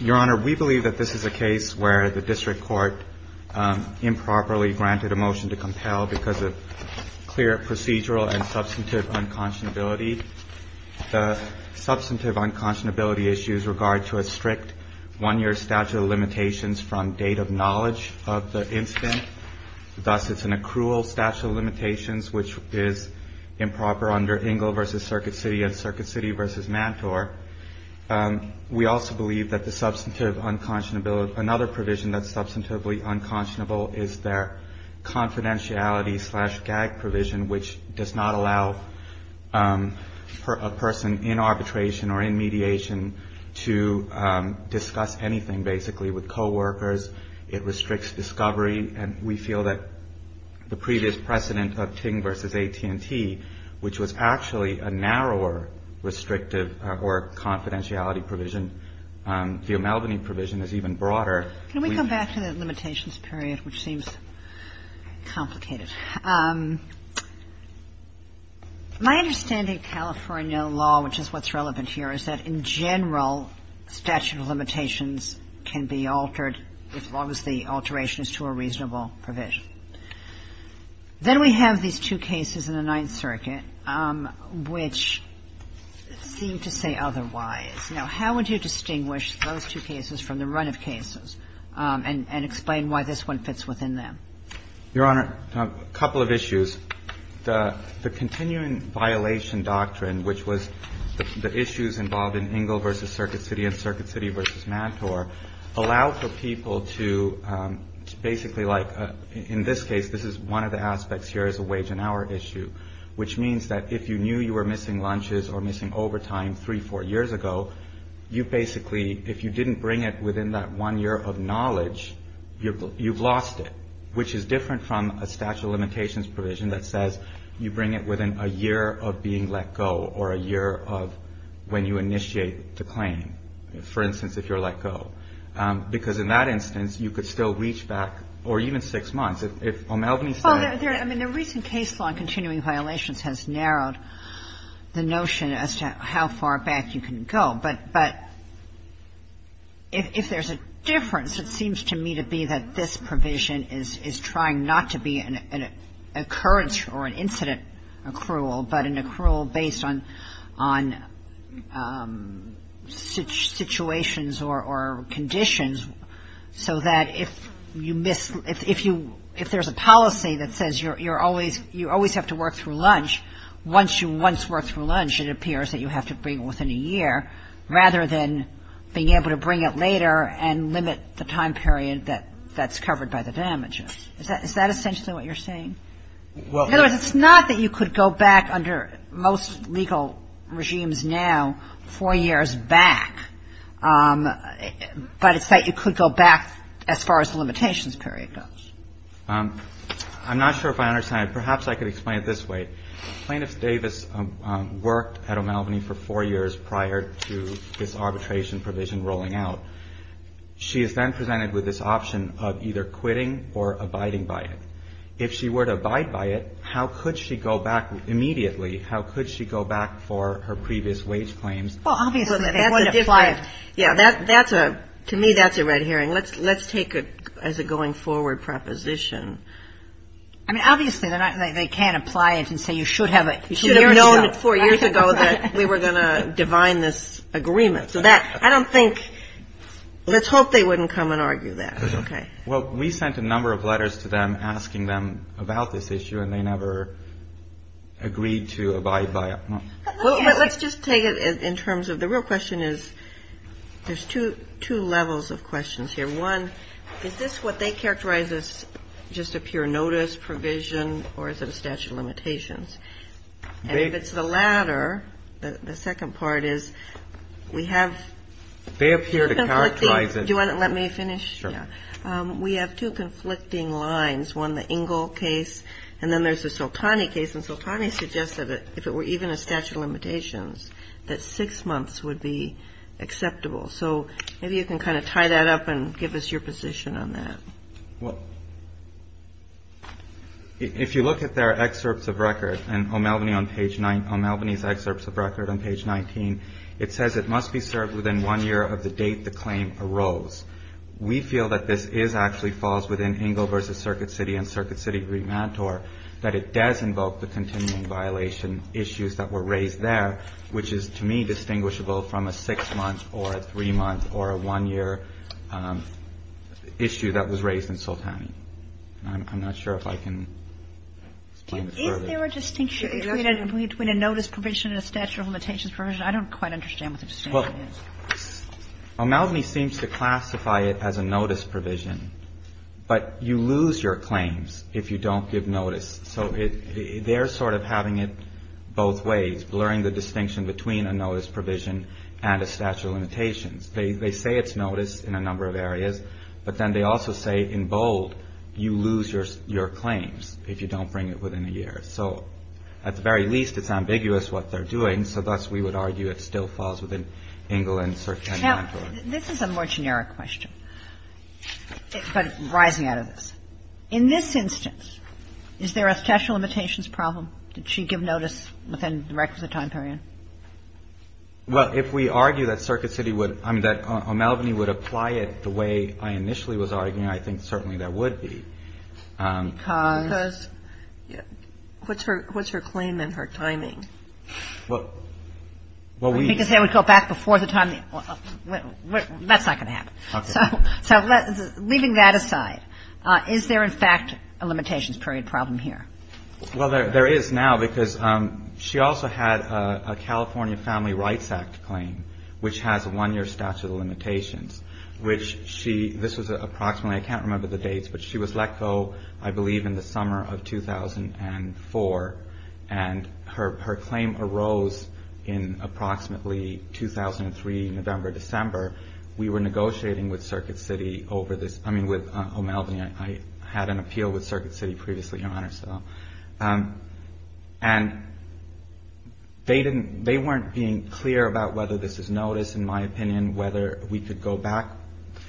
Your Honor, we believe that this is a case where the District Court improperly granted a motion to compel because of clear procedural and substantive unconscionability. The substantive unconscionability issues regard to a strict one-year statute of limitations from date of knowledge of the incident. Thus, it's an accrual statute of limitations which is Circuit City v. Mantor. We also believe that another provision that's substantively unconscionable is their confidentiality slash gag provision, which does not allow a person in arbitration or in mediation to discuss anything, basically, with coworkers. It restricts discovery. And we feel that the previous precedent of Ting v. AT&T, which was actually a narrower restrictive or confidentiality provision, the O'MELVENEY provision is even broader. We go back to the limitations period, which seems complicated. My understanding of California law, which is what's relevant here, is that, in general, statute of limitations can be altered as long as the alteration is to a reasonable provision. Then we have these two cases in the Ninth Circuit which seem to say otherwise. Now, how would you distinguish those two cases from the run of cases and explain why this one fits within them? Your Honor, a couple of issues. The continuing violation doctrine, which was the issues involved in Ingle v. Circuit City and Circuit City v. Mantor, allow for people to basically like, in this case, this is one of the aspects here is a wage and hour issue, which means that if you knew you were missing lunches or missing overtime three, four years ago, you basically, if you didn't bring it within that one year of knowledge, you've lost it, which is different from a statute of limitations provision that says you bring it within a year of being let go or a year of when you initiate the claim, for instance, if you're let go. Because in that instance, you could still reach back or even six months. If O'Malvey said — Well, there — I mean, the recent case law in continuing violations has narrowed the notion as to how far back you can go. But if there's a difference, it seems to me to be that this provision is trying not to be an occurrence or an incident accrual, but an accrual based on situations or conditions so that if you miss — if there's a policy that says you're always — you always have to work through lunch, once you once work through lunch, it appears that you have to bring it within a year rather than being able to bring it later and limit the time period that's covered by the damages. Is that essentially what you're saying? Well — In other words, it's not that you could go back under most legal regimes now four years back, but it's that you could go back as far as the limitations period goes. I'm not sure if I understand. Perhaps I could explain it this way. Plaintiff Davis worked at O'Malvey for four years prior to this arbitration provision rolling out. She is then presented with this option of either quitting or abiding by it. If she were to abide by it, how could she go back immediately? How could she go back for her previous wage claims? Well, obviously, if you want to apply it — Yeah. That's a — to me, that's a red herring. Let's take it as a going forward proposition. I mean, obviously, they can't apply it and say you should have known four years ago that we were going to divine this agreement. So that — I don't think — let's hope they wouldn't come and argue that. Okay? Well, we sent a number of letters to them asking them about this issue, and they never agreed to abide by it. Well, let's just take it in terms of — the real question is — there's two levels of questions here. One, is this what they characterize as just a pure notice provision, or is it a statute of limitations? And if it's the latter, the second part is, we have — They appear to characterize it — Do you want to let me finish? Sure. Yeah. We have two conflicting lines. One, the Ingle case, and then there's the Soltani case. And Soltani suggested that if it were even a statute of limitations, that six months would be acceptable. So maybe you can kind of tie that up and give us your position on that. Well, if you look at their excerpts of record, and O'Malveny on page — O'Malveny's excerpts of record on page 19, it says it must be served within one year of the date the claim arose. We feel that this is — actually falls within Ingle v. Circuit City and Circuit City remand tour, that it does invoke the continuing violation issues that were raised there, which is, to me, distinguishable from a six-month or a three-month or a one-year issue that was raised in Soltani. And I'm not sure if I can explain it further. Is there a distinction between a notice provision and a statute of limitations provision? I don't quite understand what the distinction is. O'Malveny seems to classify it as a notice provision, but you lose your claims if you don't give notice. So they're sort of having it both ways, blurring the distinction between a notice provision and a statute of limitations. They say it's notice in a number of areas, but then they also say, in bold, you lose your claims if you don't bring it within a year. So at the very least, it's ambiguous what they're doing. So thus, we would argue it still falls within Ingle and Circuit City remand tour. Now, this is a more generic question, but rising out of this. In this instance, is there a statute of limitations problem? Did she give notice within the requisite time period? Well, if we argue that Circuit City would — I mean, that O'Malveny would apply it the way I initially was arguing, I think certainly that would be. Because what's her — what's her claim and her timing? Well, we — Because they would go back before the time — that's not going to happen. Okay. So leaving that aside, is there, in fact, a limitations period problem here? Well, there is now, because she also had a California Family Rights Act claim, which has a one-year statute of limitations, which she — this was approximately — I can't remember the dates, but she was let go, I believe, in the summer of 2004, and her — her claim arose in approximately 2003, November, December. We were negotiating with Circuit City over this — I mean, with O'Malveny. I had an appeal with Circuit City previously, Your Honor, so — and they didn't — they weren't being clear about whether this is notice, in my opinion, whether we could go back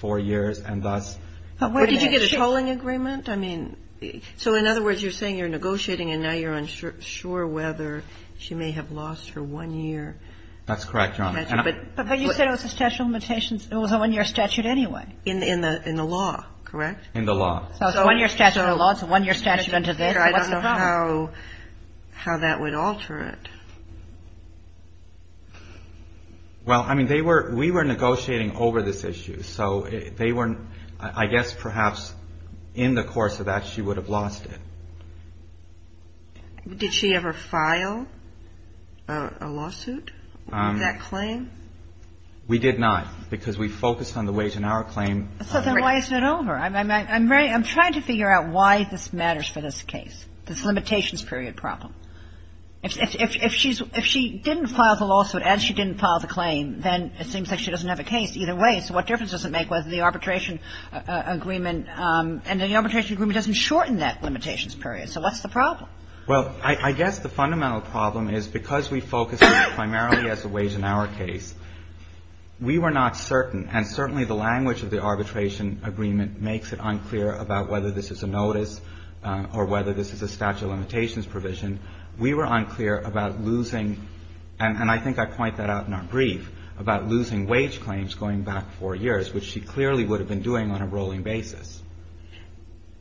four years, and thus — But did you get a tolling agreement? I mean, so in other words, you're saying you're negotiating, and now you're unsure whether she may have lost her one-year statute. That's correct, Your Honor. But you said it was a statute of limitations — it was a one-year statute anyway, in the — in the law, correct? In the law. So it's a one-year statute in the law, it's a one-year statute under this, so what's the problem? I don't know how — how that would alter it. Well, I mean, they were — we were negotiating over this issue, so they were — I guess, perhaps, in the course of that, she would have lost it. Did she ever file a lawsuit for that claim? We did not, because we focused on the weight on our claim. So then why isn't it over? I'm — I'm trying to figure out why this matters for this case, this limitations period problem. If she's — if she didn't file the lawsuit, as she didn't file the claim, then it seems like she doesn't have a case either way, so what difference does it make whether the Well, I guess the fundamental problem is, because we focused primarily as a wage in our case, we were not certain, and certainly the language of the arbitration agreement makes it unclear about whether this is a notice or whether this is a statute of limitations provision. We were unclear about losing — and I think I point that out in our brief — about losing wage claims going back four years, which she clearly would have been doing on a rolling basis.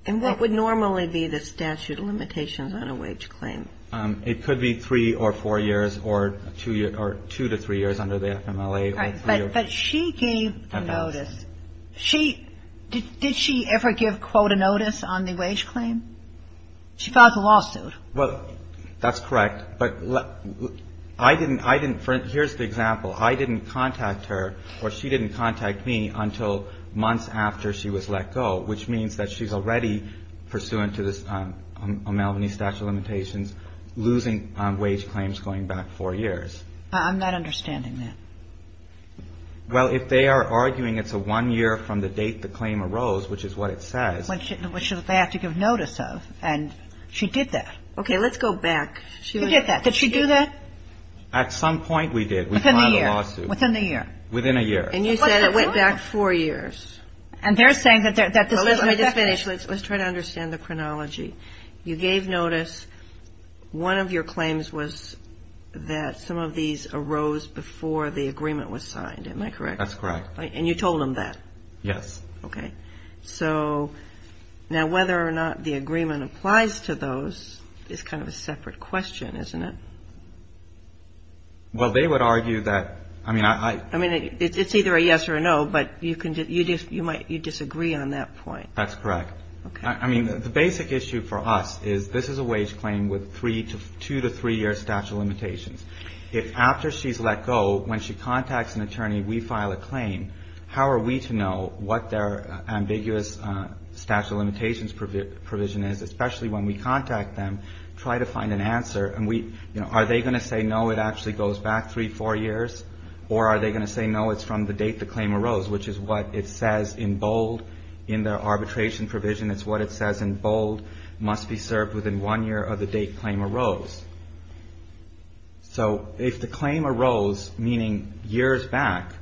And what would normally be the statute of limitations on a wage claim? It could be three or four years, or two to three years under the FMLA. All right, but she gave the notice. She — did she ever give, quote, a notice on the wage claim? She filed the lawsuit. Well, that's correct, but I didn't — I didn't — here's the example. I didn't contact her, or she didn't contact me until months after she was let go, which means that she's already pursuant to this — a Malvini statute of limitations losing wage claims going back four years. I'm not understanding that. Well, if they are arguing it's a one year from the date the claim arose, which is what it says — Which they have to give notice of, and she did that. Okay, let's go back. She did that. Did she do that? At some point we did. Within a year. Within a year. Within a year. And you said it went back four years. And they're saying that — Let me just finish. Let's try to understand the chronology. You gave notice. One of your claims was that some of these arose before the agreement was signed. Am I correct? That's correct. And you told them that? Yes. Okay. So now whether or not the agreement applies to those is kind of a separate question, isn't it? Well, they would argue that — I mean, it's either a yes or a no, but you disagree on that point. That's correct. Okay. I mean, the basic issue for us is this is a wage claim with two to three year statute of limitations. If after she's let go, when she contacts an attorney, we file a claim, how are we to know what their ambiguous statute of limitations provision is, especially when we contact them, try to find an answer, and are they going to say no, it actually goes back three, four years, or are they going to say no, it's from the date the claim arose, which is what it says in bold in the arbitration provision. It's what it says in bold, must be served within one year of the date claim arose. So if the claim arose, meaning years back,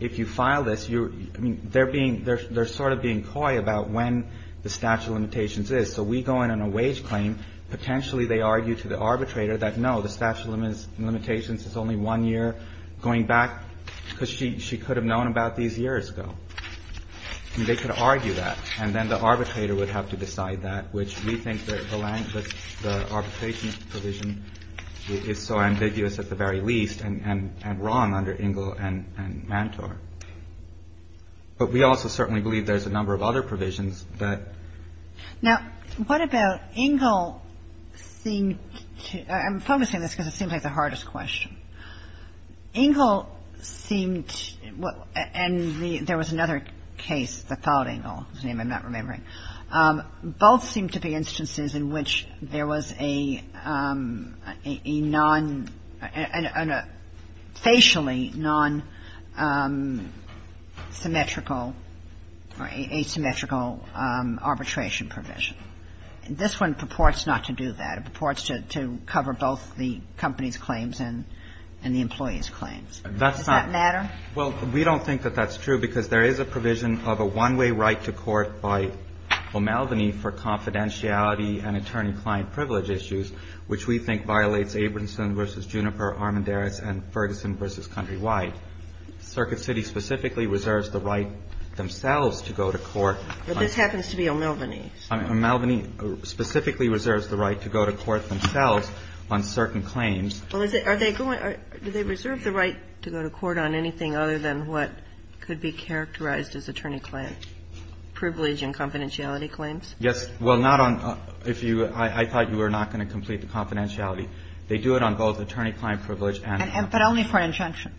if you file this, they're sort of being coy about when the statute of limitations is. So we go in on a wage claim. Potentially they argue to the arbitrator that no, the statute of limitations is only one year going back because she could have known about these years ago. I mean, they could argue that. And then the arbitrator would have to decide that, which we think the arbitration provision is so ambiguous at the very least and wrong under Ingle and Mantor. But we also certainly believe there's a number of other provisions that — Now, what about Ingle seemed to — I'm focusing on this because it seems like the hardest question. Ingle seemed — and there was another case that followed Ingle, whose name I'm not remembering. Both seem to be instances in which there was a non — a facially non-symmetrical or asymmetrical arbitration provision. This one purports not to do that. It purports to cover both the company's claims and the employee's claims. Does that matter? Well, we don't think that that's true because there is a provision of a one-way right to court by O'Melveny for confidentiality and attorney-client privilege issues, which we think violates Abramson v. Juniper, Armendaris, and Ferguson v. Countrywide. Circuit City specifically reserves the right themselves to go to court. But this happens to be O'Melveny's. O'Melveny specifically reserves the right to go to court themselves on certain claims. Well, is it — are they going — do they reserve the right to go to court on anything other than what could be characterized as attorney-client privilege and confidentiality claims? Yes. Well, not on — if you — I thought you were not going to complete the confidentiality. They do it on both attorney-client privilege and — But only for injunction.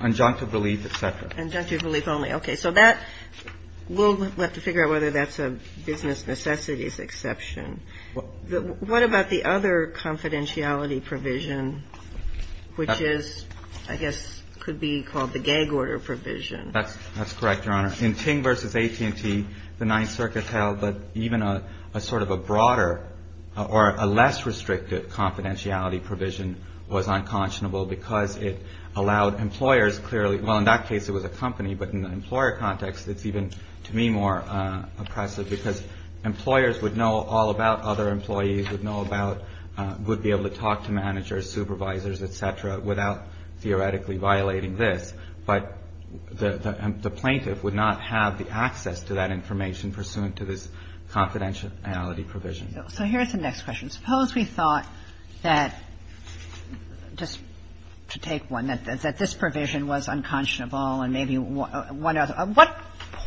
Injunctive relief, et cetera. Injunctive relief only. Okay. So that — we'll have to figure out whether that's a business necessities exception. What about the other confidentiality provision, which is, I guess, could be called the gag order provision? That's correct, Your Honor. In Ting v. AT&T, the Ninth Circuit held that even a sort of a broader or a less restricted confidentiality provision was unconscionable because it allowed employers clearly — well, in that case, it was a company, but in the employer context, it's even, to me, more oppressive because employers would know all about other employees, would know about — would be able to talk to managers, supervisors, et cetera, without theoretically violating this. But the plaintiff would not have the access to that information pursuant to this confidentiality provision. So here's the next question. Suppose we thought that — just to take one — that this provision was unconscionable and maybe one other — at what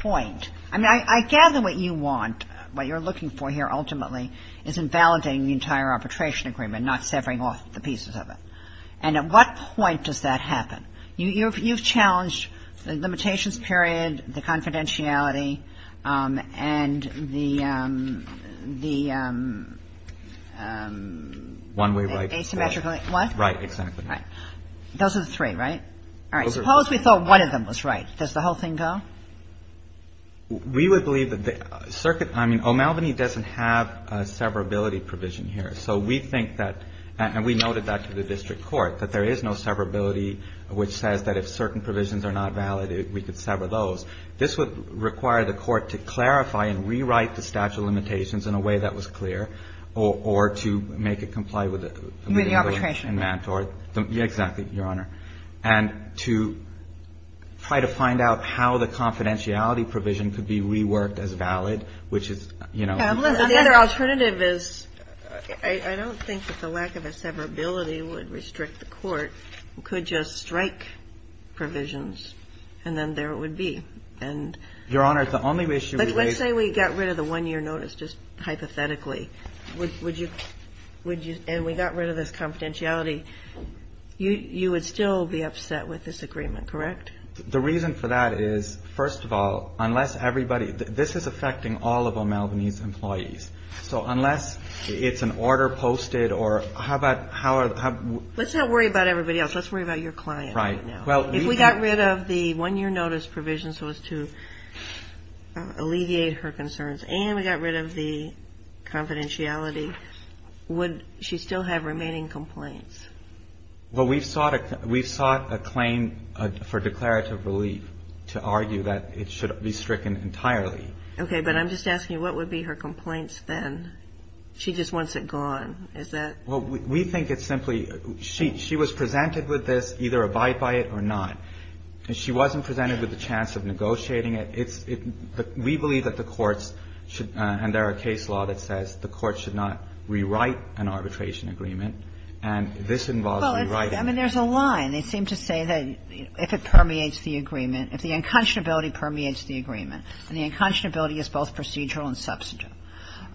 point — I mean, I gather what you want, what you're looking for here ultimately, is invalidating the entire arbitration agreement, not severing off the pieces of it. And at what point does that happen? You've challenged the limitations period, the confidentiality, and the — One way right. Asymmetrically. What? Right. Exactly right. Those are the three, right? All right. Suppose we thought one of them was right. Does the whole thing go? We would believe that the circuit — I mean, O'Malvaney doesn't have a severability provision here. So we think that — and we noted that to the district court, that there is no severability which says that if certain provisions are not valid, we could sever those. This would require the court to clarify and rewrite the statute of limitations With the arbitration agreement. Exactly, Your Honor. And to try to find out how the confidentiality provision could be reworked as valid, which is — The other alternative is — I don't think that the lack of a severability would restrict the court. It could just strike provisions, and then there it would be. And — Your Honor, the only issue — Let's say we got rid of the one-year notice just hypothetically. And we got rid of this confidentiality, you would still be upset with this agreement, correct? The reason for that is, first of all, unless everybody — this is affecting all of O'Malvaney's employees. So unless it's an order posted or — how about — Let's not worry about everybody else. Let's worry about your client right now. Right. If we got rid of the one-year notice provision so as to alleviate her concerns, and we got rid of the confidentiality, would she still have remaining complaints? Well, we've sought a claim for declarative relief to argue that it should be stricken entirely. Okay, but I'm just asking, what would be her complaints then? She just wants it gone. Is that — Well, we think it's simply — she was presented with this, either abide by it or not. And she wasn't presented with the chance of negotiating it. We believe that the courts should — and there are case law that says the courts should not rewrite an arbitration agreement. And this involves rewriting it. Well, I mean, there's a line. They seem to say that if it permeates the agreement — if the unconscionability permeates the agreement, and the unconscionability is both procedural and substantial,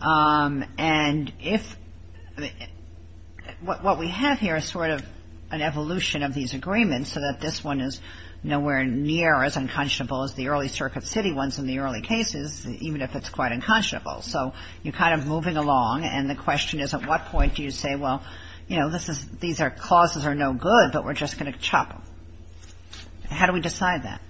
and if — what we have here is sort of an evolution of these agreements so that this one is nowhere near as unconscionable as the early Circuit City ones in the early cases, even if it's quite unconscionable. So you're kind of moving along. And the question is, at what point do you say, well, you know, this is — these clauses are no good, but we're just going to chop them? How do we decide that?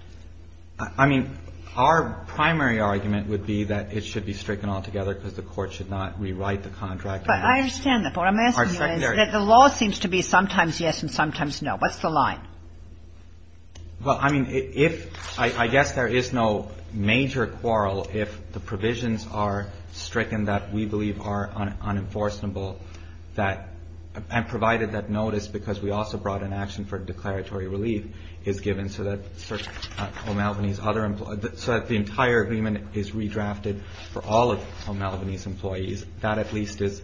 I mean, our primary argument would be that it should be stricken altogether because the court should not rewrite the contract. But I understand that. But what I'm asking you is that the law seems to be sometimes yes and sometimes no. What's the line? Well, I mean, if — I guess there is no major quarrel if the provisions are stricken that we believe are unenforceable that — and provided that notice, because we also brought an action for declaratory relief, is given so that O'Malvaney's other — so that the entire agreement is redrafted for all of O'Malvaney's employees, that at least is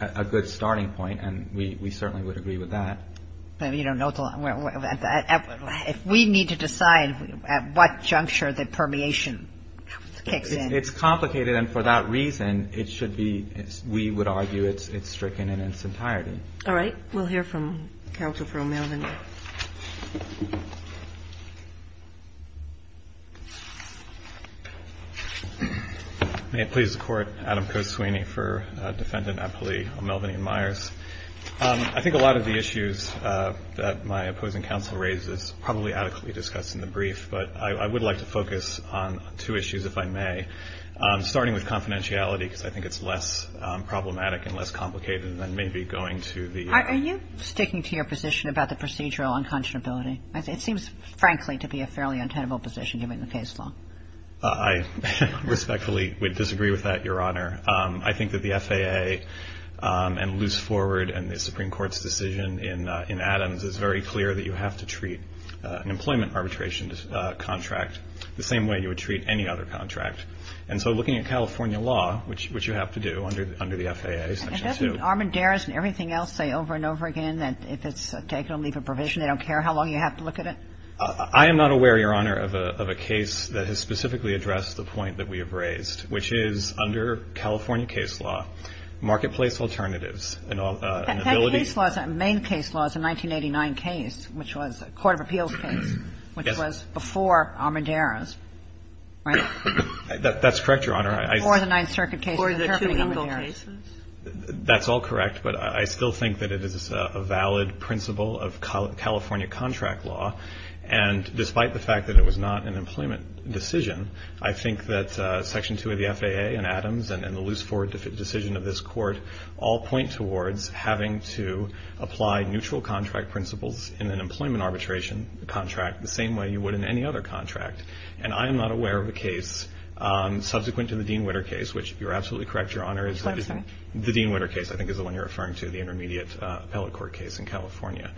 a good starting point, and we certainly would agree with that. But you don't know until — if we need to decide at what juncture the permeation kicks in. It's complicated. And for that reason, it should be — we would argue it's stricken in its entirety. All right. We'll hear from Counsel for O'Malvaney. May it please the Court. Adam Koswini for Defendant Appellee O'Malvaney and Myers. I think a lot of the issues that my opposing counsel raises probably adequately discussed in the brief, but I would like to focus on two issues, if I may, starting with confidentiality, because I think it's less problematic and less complicated than maybe going to the — Are you sticking to your position about the procedural unconscionability? It seems, frankly, to be a fairly untenable position given the case law. I respectfully would disagree with that, Your Honor. I think that the FAA and loose forward and the Supreme Court's decision in Adams is very clear that you have to treat an employment arbitration contract the same way you would treat any other contract. And so looking at California law, which you have to do under the FAA, Section 2 — And doesn't Armendariz and everything else say over and over again that if it's taken, I'll leave a provision, they don't care how long you have to look at it? I am not aware, Your Honor, of a case that has specifically addressed the point that we have raised, which is under California case law, marketplace alternatives and ability — That case law, that main case law, is a 1989 case, which was a court of appeals case. Yes. Which was before Armendariz, right? That's correct, Your Honor. Before the Ninth Circuit case interpreting Armendariz. Before the two legal cases? That's all correct, but I still think that it is a valid principle of California contract law, and despite the fact that it was not an employment decision, I think that Section 2 of the FAA and Adams and the Luce-Ford decision of this court all point towards having to apply neutral contract principles in an employment arbitration contract the same way you would in any other contract. And I am not aware of a case subsequent to the Dean-Witter case, which, if you're absolutely correct, Your Honor — Which one, sorry? The Dean-Witter case, I think, is the one you're referring to, the intermediate appellate court case in California.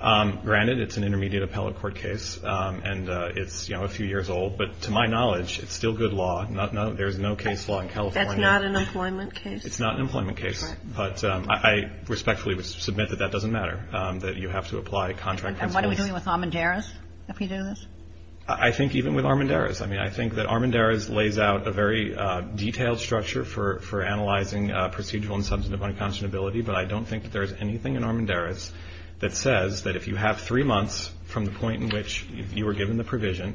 Granted, it's an intermediate appellate court case, and it's, you know, a few years old. But to my knowledge, it's still good law. There is no case law in California. That's not an employment case? It's not an employment case. But I respectfully submit that that doesn't matter, that you have to apply contract principles. And what are we doing with Armendariz if we do this? I think even with Armendariz. I mean, I think that Armendariz lays out a very detailed structure for analyzing procedural and substantive unconscionability, but I don't think that there is anything in Armendariz that says that if you have three months from the point in which you were given the provision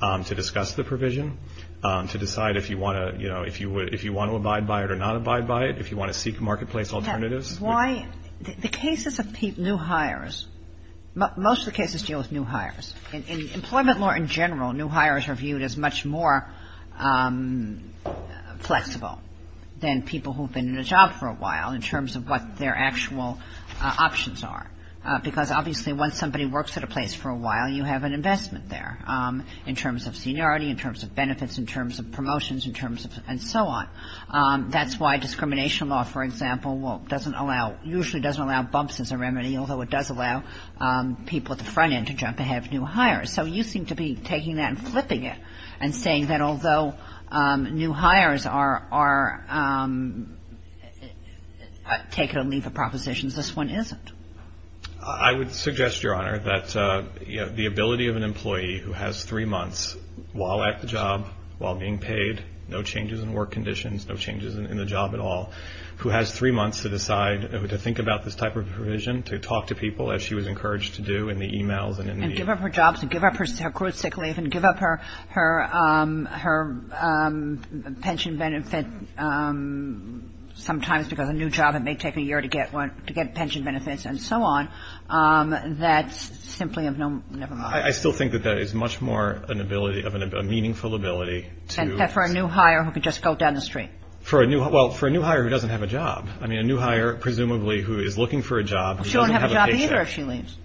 to discuss the provision, to decide if you want to, you know, if you want to abide by it or not abide by it, if you want to seek marketplace alternatives. Why — the cases of new hires, most of the cases deal with new hires. In employment law in general, new hires are viewed as much more flexible than people who have been in a job for a while in terms of what their actual options are, because obviously once somebody works at a place for a while, you have an investment there. In terms of seniority, in terms of benefits, in terms of promotions, in terms of — and so on. That's why discrimination law, for example, doesn't allow — usually doesn't allow bumps as a remedy, although it does allow people at the front end to jump ahead of new hires. So you seem to be taking that and flipping it and saying that although new hires are — take it or leave it propositions, this one isn't. I would suggest, Your Honor, that the ability of an employee who has three months while at the job, while being paid, no changes in work conditions, no changes in the job at all, who has three months to decide, to think about this type of provision, to talk to people as she was encouraged to do in the e-mails and in the e-mails. And give up her jobs and give up her career sick leave and give up her pension benefit sometimes because a new job, it may take a year to get one — to get pension benefits and so on. That's simply of no — never mind. I still think that that is much more an ability of a meaningful ability to — And for a new hire who could just go down the street. For a new — well, for a new hire who doesn't have a job. I mean, a new hire presumably who is looking for a job — She won't have a job either if she leaves.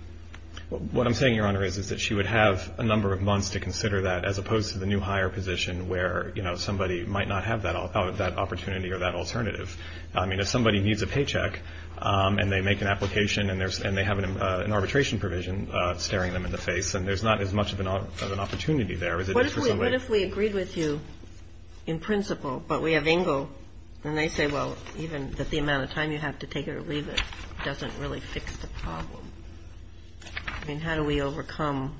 What I'm saying, Your Honor, is that she would have a number of months to consider that as opposed to the new hire position where, you know, somebody might not have that opportunity or that alternative. I mean, if somebody needs a paycheck and they make an application and they have an arbitration provision staring them in the face, then there's not as much of an opportunity there as it is for somebody — What if we agreed with you in principle, but we have Engle, and they say, well, even that the amount of time you have to take it or leave it doesn't really fix the problem? I mean, how do we overcome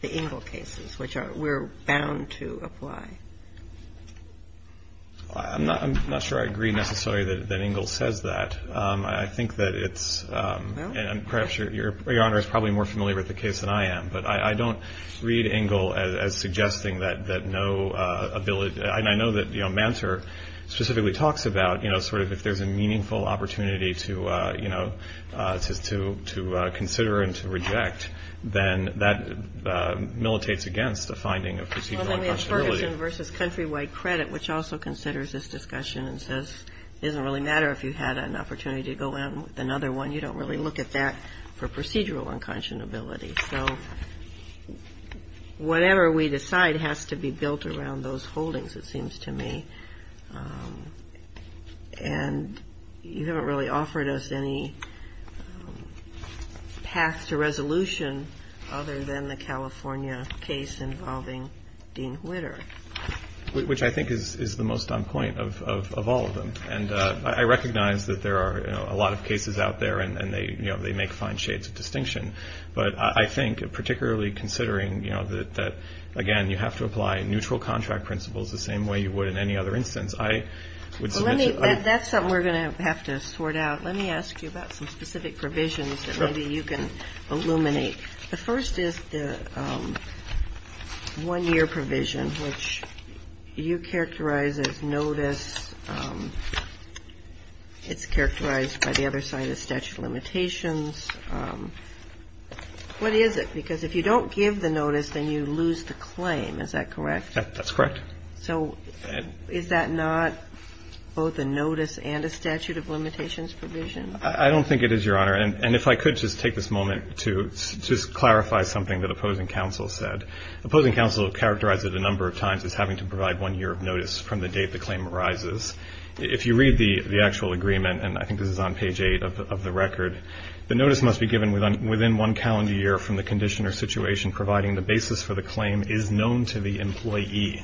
the Engle cases, which we're bound to apply? I'm not sure I agree necessarily that Engle says that. I think that it's — and perhaps Your Honor is probably more familiar with the case than I am, but I don't read Engle as suggesting that no ability — and I know that, you know, Mantor specifically talks about, you know, sort of if there's a meaningful opportunity to, you know, to consider and to reject, then that militates against a finding of procedural unpossibility. Well, then we have Ferguson v. Countrywide Credit, which also considers this discussion and says it doesn't really matter if you had an opportunity to go in with another one. You don't really look at that for procedural unconscionability. So whatever we decide has to be built around those holdings, it seems to me. And you haven't really offered us any path to resolution other than the California case involving Dean Whitter. Which I think is the most on point of all of them. And I recognize that there are a lot of cases out there, and, you know, they make fine shades of distinction. But I think, particularly considering, you know, that, again, you have to apply neutral contract principles the same way you would in any other instance, I would — That's something we're going to have to sort out. Let me ask you about some specific provisions that maybe you can illuminate. The first is the one-year provision, which you characterize as notice. It's characterized by the other side as statute of limitations. What is it? Because if you don't give the notice, then you lose the claim. Is that correct? That's correct. So is that not both a notice and a statute of limitations provision? I don't think it is, Your Honor. And if I could just take this moment to just clarify something that opposing counsel said. Opposing counsel characterized it a number of times as having to provide one year of notice from the date the claim arises. If you read the actual agreement, and I think this is on page 8 of the record, the notice must be given within one calendar year from the condition or situation providing the basis for the claim is known to the employee,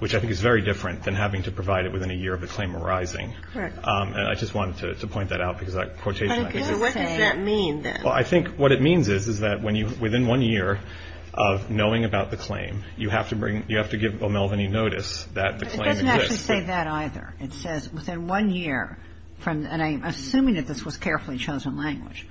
which I think is very different than having to provide it within a year of the claim arising. Correct. And I just wanted to point that out because that quotation, I think, is — Okay. So what does that mean, then? Well, I think what it means is, is that when you — within one year of knowing about the claim, you have to bring — you have to give O'Melveny notice that the claim exists. But it doesn't actually say that either. It says within one year from — and I'm assuming that this was carefully chosen language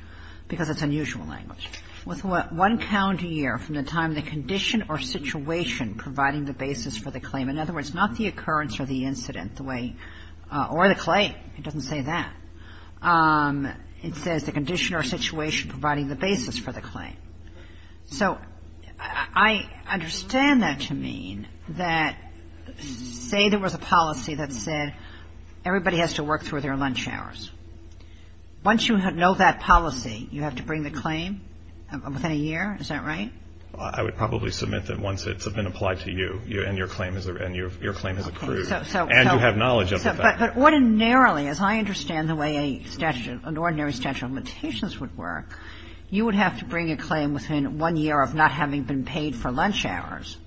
because it's unusual language. With what? One calendar year from the time the condition or situation providing the basis for the claim. In other words, not the occurrence or the incident, the way — or the claim. It doesn't say that. It says the condition or situation providing the basis for the claim. So I understand that to mean that say there was a policy that said everybody has to work through their lunch hours. Once you know that policy, you have to bring the claim within a year. Is that right? I would probably submit that once it's been applied to you and your claim is — and your claim has accrued. So — so — And you have knowledge of the fact that — But ordinarily, as I understand the way a statute — an ordinary statute of limitations would work, you would have to bring a claim within one year of not having been paid for lunch hours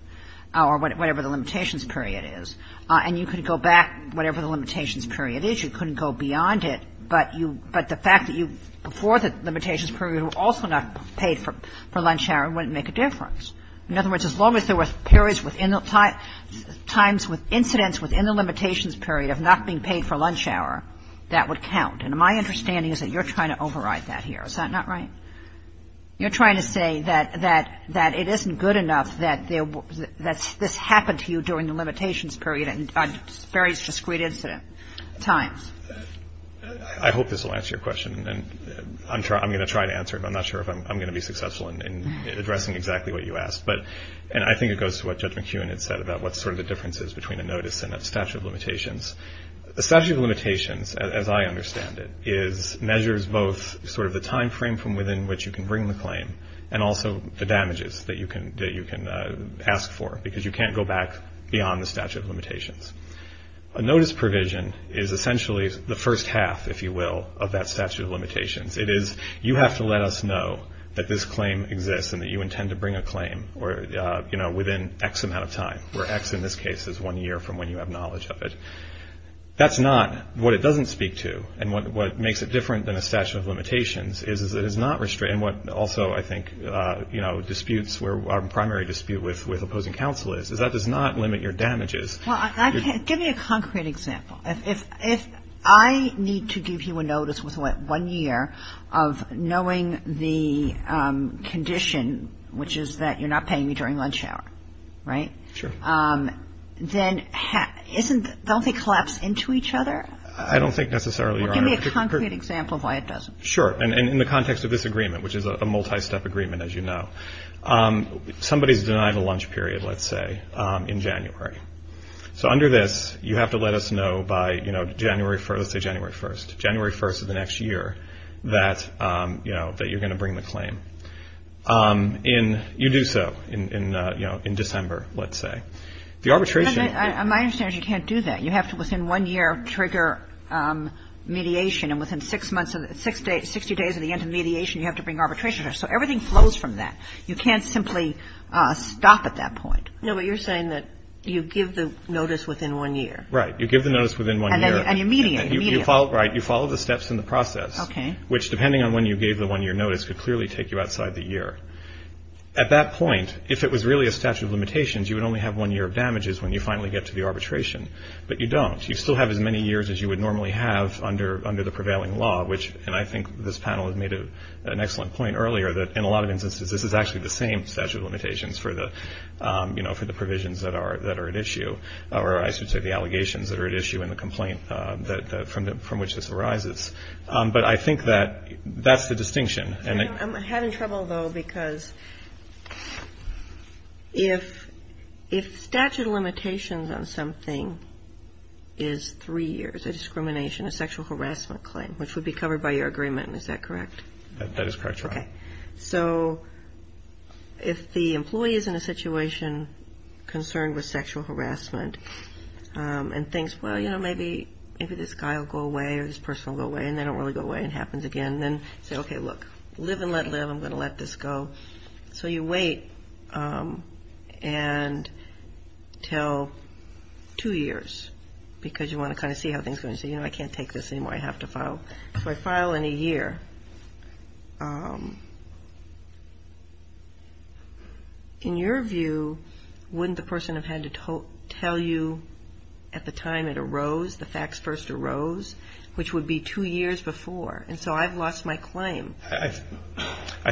or whatever the limitations period is. And you could go back, whatever the limitations period is. You couldn't go beyond it, but you — but the fact that you — before the limitations period were also not paid for lunch hour wouldn't make a difference. In other words, as long as there were periods within the time — times with incidents within the limitations period of not being paid for lunch hour, that would count. And my understanding is that you're trying to override that here. Is that not right? You're trying to say that — that it isn't good enough that this happened to you during the limitations period at various discrete incident times. I hope this will answer your question. And I'm going to try to answer it. I'm not sure if I'm going to be successful in addressing exactly what you asked. But — and I think it goes to what Judge McEwen had said about what sort of the difference is between a notice and a statute of limitations. A statute of limitations, as I understand it, is — measures both sort of the timeframe from within which you can bring the claim and also the damages that you can ask for because you can't go back beyond the statute of limitations. A notice provision is essentially the first half, if you will, of that statute of limitations. It is — you have to let us know that this claim exists and that you intend to bring a claim within X amount of time, where X in this case is one year from when you have knowledge of it. That's not — what it doesn't speak to and what makes it different than a statute of limitations is that it does not restrain what also I think, you know, disputes where our primary dispute with opposing counsel is, is that it does not limit your damages. Well, give me a concrete example. If I need to give you a notice within one year of knowing the condition, which is that you're not paying me during lunch hour, right? Sure. Then isn't — don't they collapse into each other? I don't think necessarily, Your Honor. Well, give me a concrete example of why it doesn't. Sure. And in the context of this agreement, which is a multi-step agreement, as you know, somebody's denied a lunch period, let's say, in January. So under this, you have to let us know by, you know, January — let's say January 1st. January 1st of the next year that, you know, that you're going to bring the claim. In — you do so in, you know, in December, let's say. The arbitration — My understanding is you can't do that. You have to within one year trigger mediation. And within six months of — 60 days of the end of mediation, you have to bring arbitration. So everything flows from that. You can't simply stop at that point. No, but you're saying that you give the notice within one year. Right. You give the notice within one year. And then you mediate. You mediate. Right. You follow the steps in the process. Okay. Which, depending on when you gave the one-year notice, could clearly take you outside the year. At that point, if it was really a statute of limitations, you would only have one year of damages when you finally get to the arbitration. But you don't. You still have as many years as you would normally have under the prevailing law, which — and I think this panel has made an excellent point earlier that, in a lot of instances, this is actually the same statute of limitations for the, you know, for the provisions that are at issue, or I should say the allegations that are at issue in the complaint from which this arises. But I think that that's the distinction. I'm having trouble, though, because if statute of limitations on something is three years, a discrimination, a sexual harassment claim, which would be covered by your agreement, is that correct? That is correct, Your Honor. Okay. So if the employee is in a situation concerned with sexual harassment and thinks, well, you know, maybe this guy will go away or this person will go away and they don't really go away and it happens again, and then say, okay, look, live and let live. I'm going to let this go. So you wait until two years because you want to kind of see how things go and say, you know, I can't take this anymore. I have to file. If I file in a year, in your view, wouldn't the person have had to tell you at the time it arose, the facts first arose, which would be two years before? And so I've lost my claim. I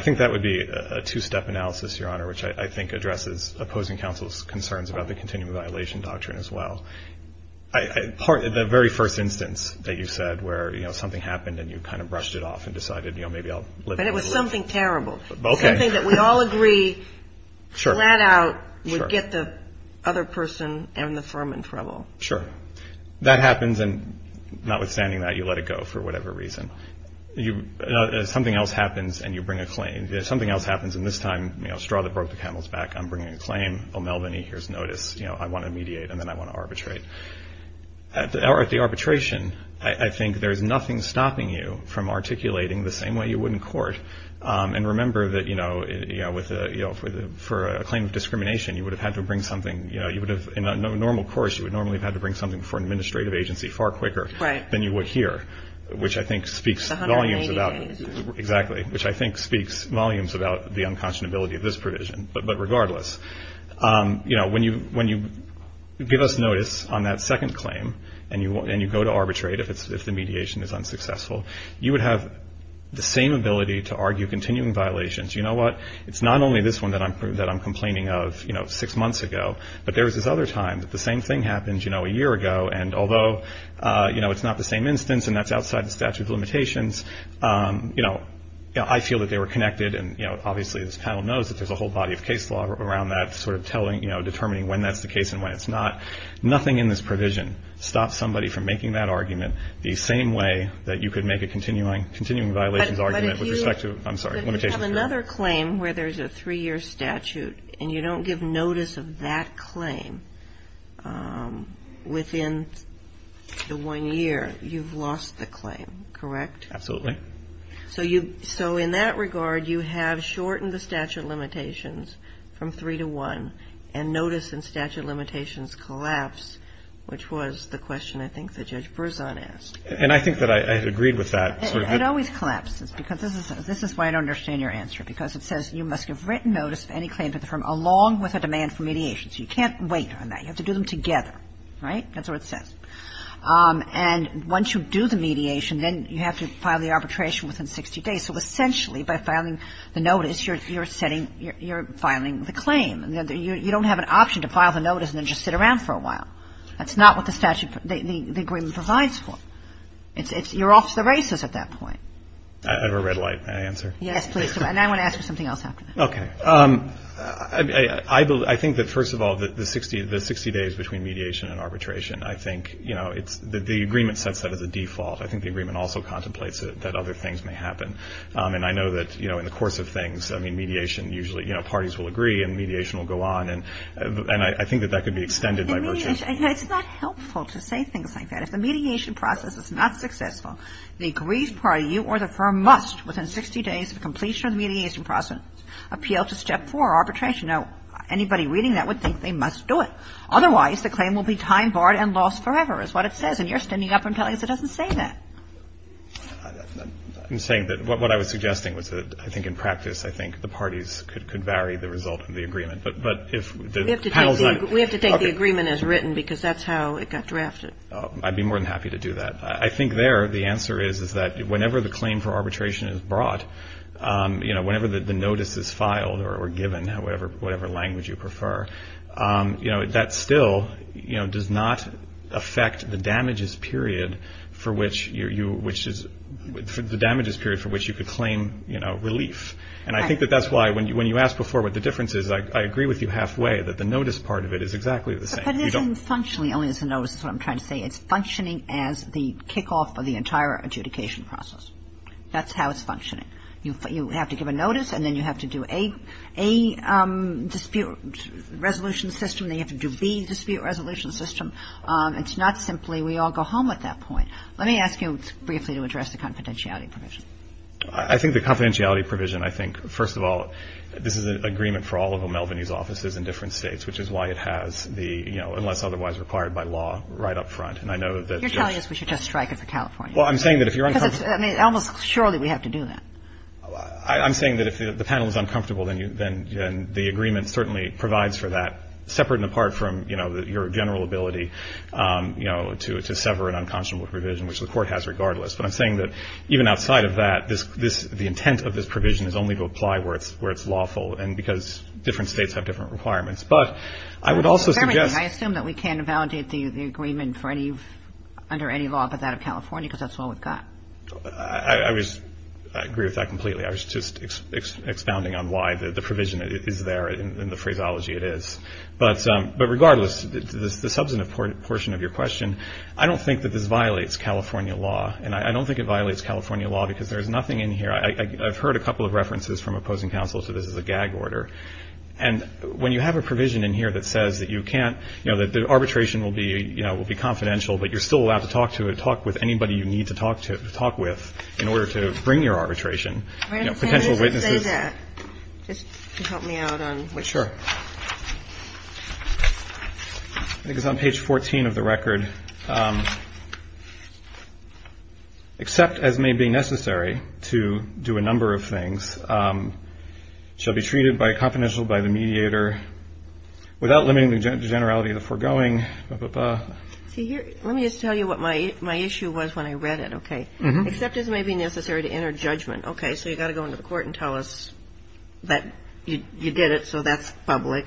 think that would be a two-step analysis, Your Honor, which I think addresses opposing counsel's concerns about the continuum of violation doctrine as well. The very first instance that you said where, you know, something happened and you kind of brushed it off and decided, you know, maybe I'll live and let live. But it was something terrible. Okay. Something that we all agree flat out would get the other person and the firm in trouble. Sure. That happens and notwithstanding that, you let it go for whatever reason. Something else happens and you bring a claim. Something else happens and this time, you know, straw that broke the camel's back, I'm bringing a claim. O'Melveny, here's notice. You know, I want to mediate and then I want to arbitrate. At the arbitration, I think there's nothing stopping you from articulating the same way you would in court. And remember that, you know, for a claim of discrimination, you would have had to bring something. You know, in a normal course, you would normally have had to bring something for an administrative agency far quicker than you would here, which I think speaks volumes about the unconscionability of this provision. But regardless, you know, when you give us notice on that second claim and you go to arbitrate if the mediation is unsuccessful, you would have the same ability to argue continuing violations. You know what? It's not only this one that I'm complaining of, you know, six months ago, but there was this other time that the same thing happened, you know, a year ago. And although, you know, it's not the same instance and that's outside the statute of limitations, you know, I feel that they were connected and, you know, obviously this panel knows that there's a whole body of case law around that sort of telling, you know, determining when that's the case and when it's not. Nothing in this provision stops somebody from making that argument the same way that you could make a continuing violations argument with respect to, I'm sorry, limitations. You have another claim where there's a three-year statute and you don't give notice of that claim within the one year. You've lost the claim, correct? Absolutely. So in that regard, you have shortened the statute of limitations from three to one and notice and statute of limitations collapse, which was the question I think that Judge Berzon asked. And I think that I had agreed with that. Absolutely. It always collapses because this is why I don't understand your answer, because it says you must give written notice of any claim to the firm along with a demand for mediation. So you can't wait on that. You have to do them together. Right? That's what it says. And once you do the mediation, then you have to file the arbitration within 60 days. So essentially by filing the notice, you're setting you're filing the claim. You don't have an option to file the notice and then just sit around for a while. That's not what the statute, the agreement provides for. You're off to the races at that point. I have a red light. May I answer? Yes, please do. And I want to ask for something else after that. Okay. I think that first of all, the 60 days between mediation and arbitration, I think, you know, the agreement sets that as a default. I think the agreement also contemplates that other things may happen. And I know that, you know, in the course of things, I mean, mediation usually, you know, parties will agree and mediation will go on. And I think that that could be extended by virtue. It's not helpful to say things like that. If the mediation process is not successful, the agreed party, you or the firm, must within 60 days of completion of the mediation process appeal to step four, arbitration. Now, anybody reading that would think they must do it. Otherwise, the claim will be time barred and lost forever is what it says. And you're standing up and telling us it doesn't say that. I'm saying that what I was suggesting was that I think in practice, I think the parties could vary the result of the agreement. But if the panel's not – We have to take the agreement as written because that's how it got drafted. I'd be more than happy to do that. I think there the answer is that whenever the claim for arbitration is brought, you know, whenever the notice is filed or given, whatever language you prefer, you know, that still, you know, does not affect the damages period for which you – the damages period for which you could claim, you know, relief. And I think that that's why when you asked before what the difference is, I agree with you halfway that the notice part of it is exactly the same. But it isn't functionally only as a notice is what I'm trying to say. It's functioning as the kickoff of the entire adjudication process. That's how it's functioning. You have to give a notice and then you have to do A dispute resolution system. Then you have to do B dispute resolution system. It's not simply we all go home at that point. Let me ask you briefly to address the confidentiality provision. I think the confidentiality provision, I think, first of all, this is an agreement for all of O'Melveny's offices in different states, which is why it has the, you know, unless otherwise required by law right up front. And I know that just – You're telling us we should just strike it for California. Well, I'm saying that if you're – Because it's – I mean, almost surely we have to do that. I'm saying that if the panel is uncomfortable, then the agreement certainly provides for that, separate and apart from, you know, your general ability, you know, to sever an unconscionable provision, which the Court has regardless. But I'm saying that even outside of that, the intent of this provision is only to apply where it's lawful and because different states have different requirements. But I would also suggest – I assume that we can validate the agreement for any – under any law but that of California because that's all we've got. I was – I agree with that completely. I was just expounding on why the provision is there and the phraseology it is. But regardless, the substantive portion of your question, I don't think that this violates California law. And I don't think it violates California law because there's nothing in here. I've heard a couple of references from opposing counsel to this as a gag order. And when you have a provision in here that says that you can't – you know, that the arbitration will be, you know, will be confidential but you're still allowed to talk to it, talk with anybody you need to talk with in order to bring your arbitration, you know, potential witnesses – Can I just say that? Just to help me out on – Sure. I think it's on page 14 of the record. Except as may be necessary to do a number of things, shall be treated by a confidential by the mediator without limiting the generality of the foregoing. Let me just tell you what my issue was when I read it, okay? Except as may be necessary to enter judgment. Okay, so you've got to go into the court and tell us that you did it so that's public.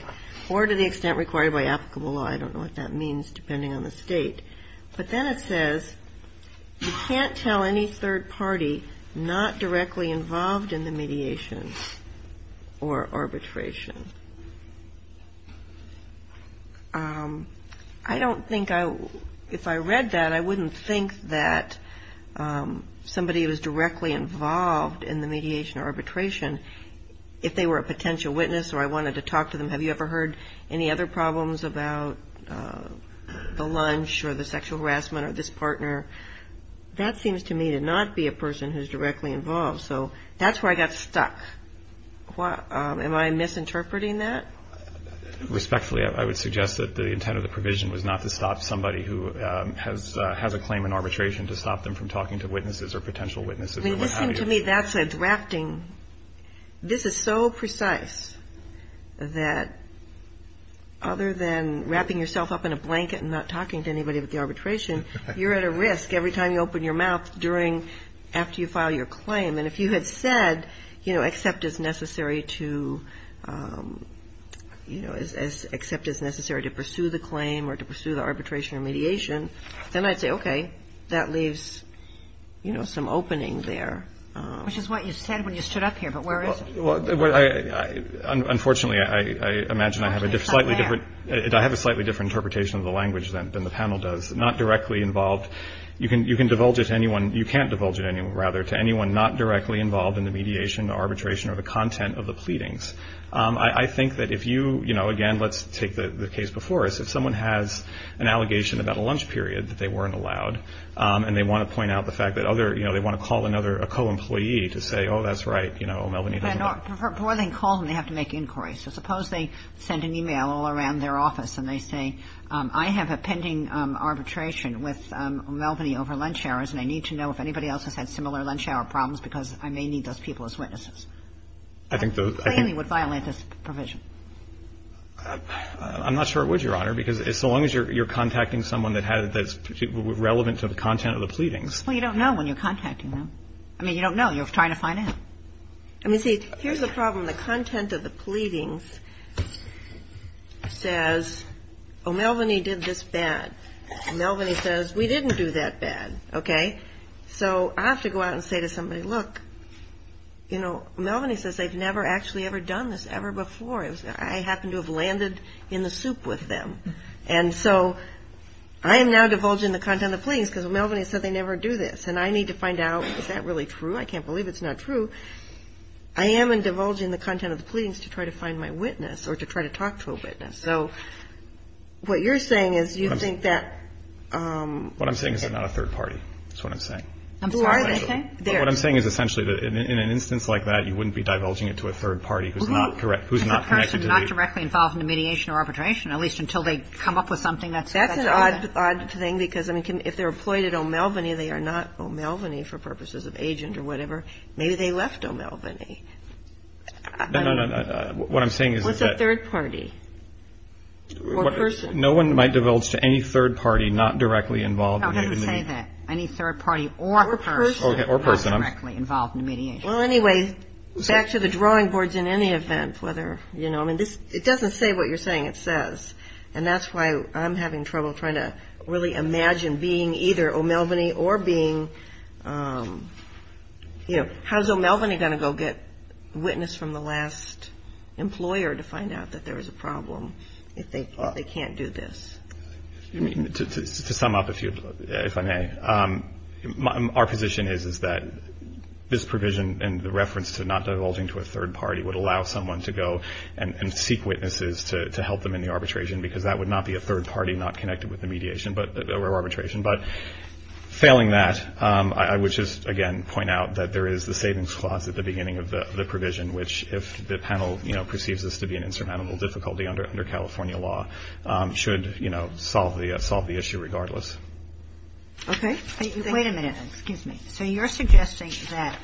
Or to the extent required by applicable law. I don't know what that means depending on the state. But then it says you can't tell any third party not directly involved in the mediation or arbitration. I don't think I – if I read that, I wouldn't think that somebody was directly involved in the mediation or arbitration. If they were a potential witness or I wanted to talk to them, have you ever heard any other problems about the lunch or the sexual harassment or this partner? That seems to me to not be a person who's directly involved. So that's where I got stuck. Am I misinterpreting that? Respectfully, I would suggest that the intent of the provision was not to stop somebody who has a claim in arbitration to stop them from talking to witnesses or potential witnesses. I mean, this seems to me that's a drafting – this is so precise that other than wrapping yourself up in a blanket and not talking to anybody about the arbitration, you're at a risk every time you open your mouth during – after you file your claim. And if you had said, you know, accept as necessary to – you know, accept as necessary to pursue the claim or to pursue the arbitration or mediation, then I'd say, okay, that leaves, you know, some opening there. Which is what you said when you stood up here, but where is it? Well, I – unfortunately, I imagine I have a slightly different – I have a slightly different interpretation of the language than the panel does. Not directly involved – you can divulge it to anyone – you can't divulge it to anyone, rather, to anyone not directly involved in the mediation or arbitration or the content of the pleadings. I think that if you – you know, again, let's take the case before us. If someone has an allegation about a lunch period that they weren't allowed and they want to point out the fact that other – you know, they want to call another – a co-employee to say, oh, that's right, you know, Melvaney doesn't know. But before they call them, they have to make inquiries. So suppose they send an e-mail all around their office and they say, I have a pending arbitration with Melvaney over lunch hours and I need to know if anybody else has had similar lunch hour problems because I may need those people as witnesses. I think the – I think the – That plainly would violate this provision. I'm not sure it would, Your Honor, because so long as you're contacting someone that has – that's relevant to the content of the pleadings. Well, you don't know when you're contacting them. I mean, you don't know. You're trying to find out. I mean, see, here's the problem. The content of the pleadings says, oh, Melvaney did this bad. Melvaney says, we didn't do that bad, okay? So I have to go out and say to somebody, look, you know, Melvaney says they've never actually ever done this ever before. I happen to have landed in the soup with them. And so I am now divulging the content of the pleadings because Melvaney said they never do this and I need to find out, is that really true? I can't believe it's not true. I am divulging the content of the pleadings to try to find my witness or to try to talk to a witness. So what you're saying is you think that – What I'm saying is they're not a third party. That's what I'm saying. Who are they? What I'm saying is essentially that in an instance like that, you wouldn't be divulging it to a third party who's not correct, who's not connected to the – If the person's not directly involved in the mediation or arbitration, at least until they come up with something that's – That's an odd thing because, I mean, if they're employed at O'Melvaney, they are not O'Melvaney for purposes of agent or whatever. Maybe they left O'Melvaney. No, no, no. What I'm saying is that – What's a third party? Or person? No one might divulge to any third party not directly involved in the – No, don't say that. Any third party or person not directly involved in the mediation. Well, anyway, back to the drawing boards in any event, whether – I mean, it doesn't say what you're saying it says, and that's why I'm having trouble trying to really imagine being either O'Melvaney or being – How's O'Melvaney going to go get witness from the last employer to find out that there is a problem if they can't do this? To sum up, if I may, our position is that this provision and the reference to not divulging to a third party would allow someone to go and seek witnesses to help them in the arbitration because that would not be a third party not connected with the mediation or arbitration. But failing that, I would just, again, point out that there is the savings clause at the beginning of the provision, which if the panel perceives this to be an insurmountable difficulty under California law, should, you know, solve the issue regardless. Okay. Wait a minute. Excuse me. So you're suggesting that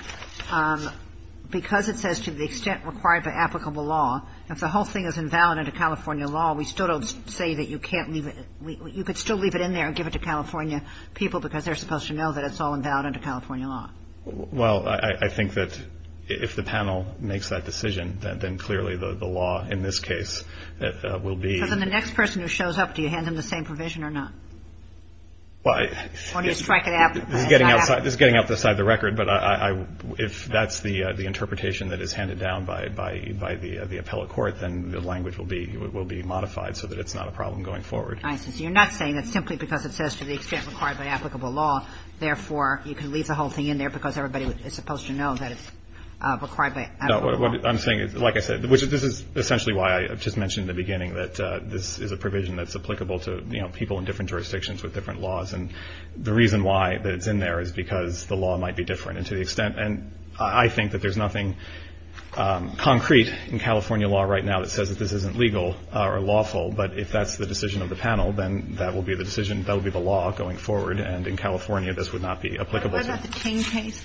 because it says to the extent required by applicable law, if the whole thing is invalid under California law, we still don't say that you can't leave it – you could still leave it in there and give it to California people because they're supposed to know that it's all invalid under California law. Well, I think that if the panel makes that decision, then clearly the law in this case will be – But then the next person who shows up, do you hand them the same provision or not? Well, I – Or do you strike it applicable? This is getting outside the record, but if that's the interpretation that is handed down by the appellate court, then the language will be modified so that it's not a problem going forward. I see. So you're not saying that simply because it says to the extent required by applicable law, therefore, you can leave the whole thing in there because everybody is supposed to know that it's required by applicable law? What I'm saying is, like I said, which this is essentially why I just mentioned in the beginning that this is a provision that's applicable to, you know, people in different jurisdictions with different laws. And the reason why that it's in there is because the law might be different. And to the extent – and I think that there's nothing concrete in California law right now that says that this isn't legal or lawful. But if that's the decision of the panel, then that will be the decision – that will be the law going forward. And in California, this would not be applicable. What about the Ting case?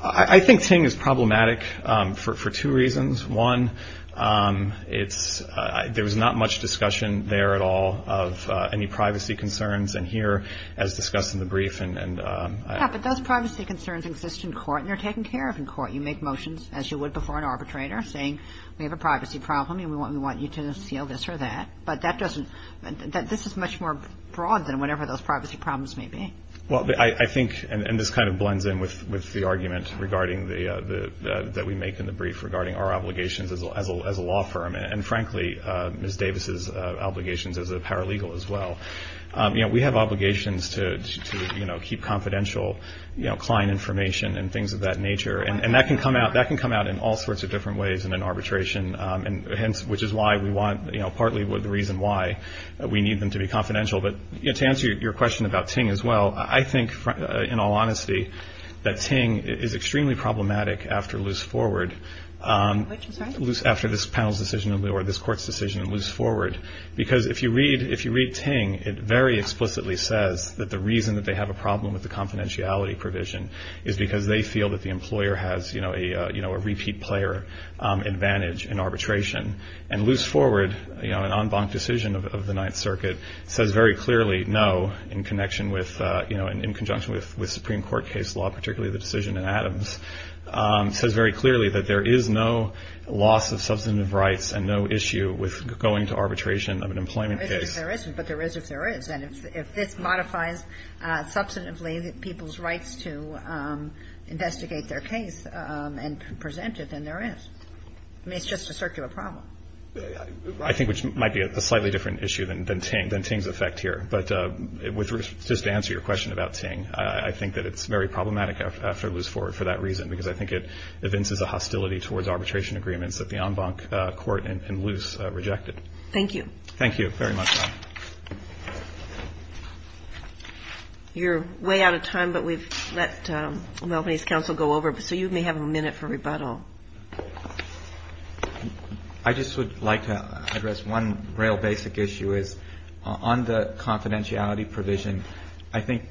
I think Ting is problematic for two reasons. One, it's – there was not much discussion there at all of any privacy concerns. And here, as discussed in the brief and – Yeah, but those privacy concerns exist in court and are taken care of in court. You make motions, as you would before an arbitrator, saying we have a privacy problem and we want you to seal this or that. But that doesn't – this is much more broad than whatever those privacy problems may be. Well, I think – and this kind of blends in with the argument regarding the – that we make in the brief regarding our obligations as a law firm. And, frankly, Ms. Davis' obligations as a paralegal as well. You know, we have obligations to, you know, keep confidential, you know, client information and things of that nature. And that can come out in all sorts of different ways in an arbitration, which is why we want – you know, partly the reason why we need them to be confidential. But, you know, to answer your question about Ting as well, I think, in all honesty, that Ting is extremely problematic after loose forward. After this panel's decision or this court's decision, loose forward. Because if you read – if you read Ting, it very explicitly says that the reason that they have a problem with the confidentiality provision is because they feel that the employer has, you know, a repeat player advantage in arbitration. And loose forward, you know, an en banc decision of the Ninth Circuit, says very clearly, no, in connection with – you know, in conjunction with Supreme Court case law, particularly the decision in Adams, says very clearly that there is no loss of substantive rights and no issue with going to arbitration of an employment case. There isn't, but there is if there is. And if this modifies substantively people's rights to investigate their case and present it, then there is. I mean, it's just a circular problem. I think which might be a slightly different issue than Ting – than Ting's effect here. But just to answer your question about Ting, I think that it's very problematic after loose forward for that reason because I think it evinces a hostility towards arbitration agreements that the en banc court in loose rejected. Thank you. Thank you very much, Ron. You're way out of time, but we've let the Melbourne East Council go over. So you may have a minute for rebuttal. I just would like to address one real basic issue is on the confidentiality provision, I think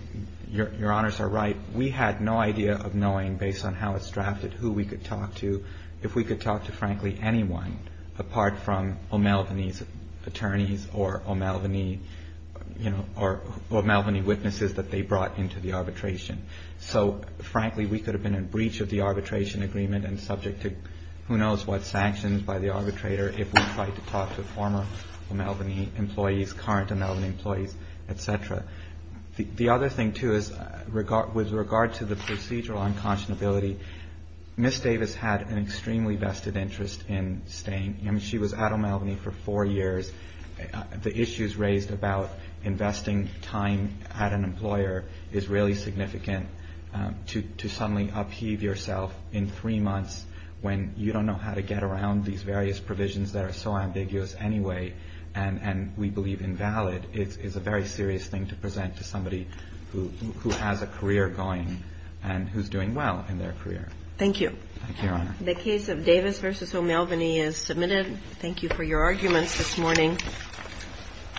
Your Honors are right. We had no idea of knowing, based on how it's drafted, who we could talk to, if we could talk to frankly anyone apart from O'Melveny's attorneys or O'Melveny, you know, or O'Melveny witnesses that they brought into the arbitration. So, frankly, we could have been in breach of the arbitration agreement and subject to who knows what sanctions by the arbitrator if we tried to talk to former O'Melveny employees, current O'Melveny employees, et cetera. The other thing, too, is with regard to the procedural unconscionability, Ms. Davis had an extremely vested interest in staying. I mean, she was at O'Melveny for four years. The issues raised about investing time at an employer is really significant to suddenly upheave yourself in three months when you don't know how to get around these various provisions that are so ambiguous anyway and we believe invalid. It's a very serious thing to present to somebody who has a career going and who's doing well in their career. Thank you. Thank you, Your Honor. The case of Davis v. O'Melveny is submitted. Thank you for your arguments this morning.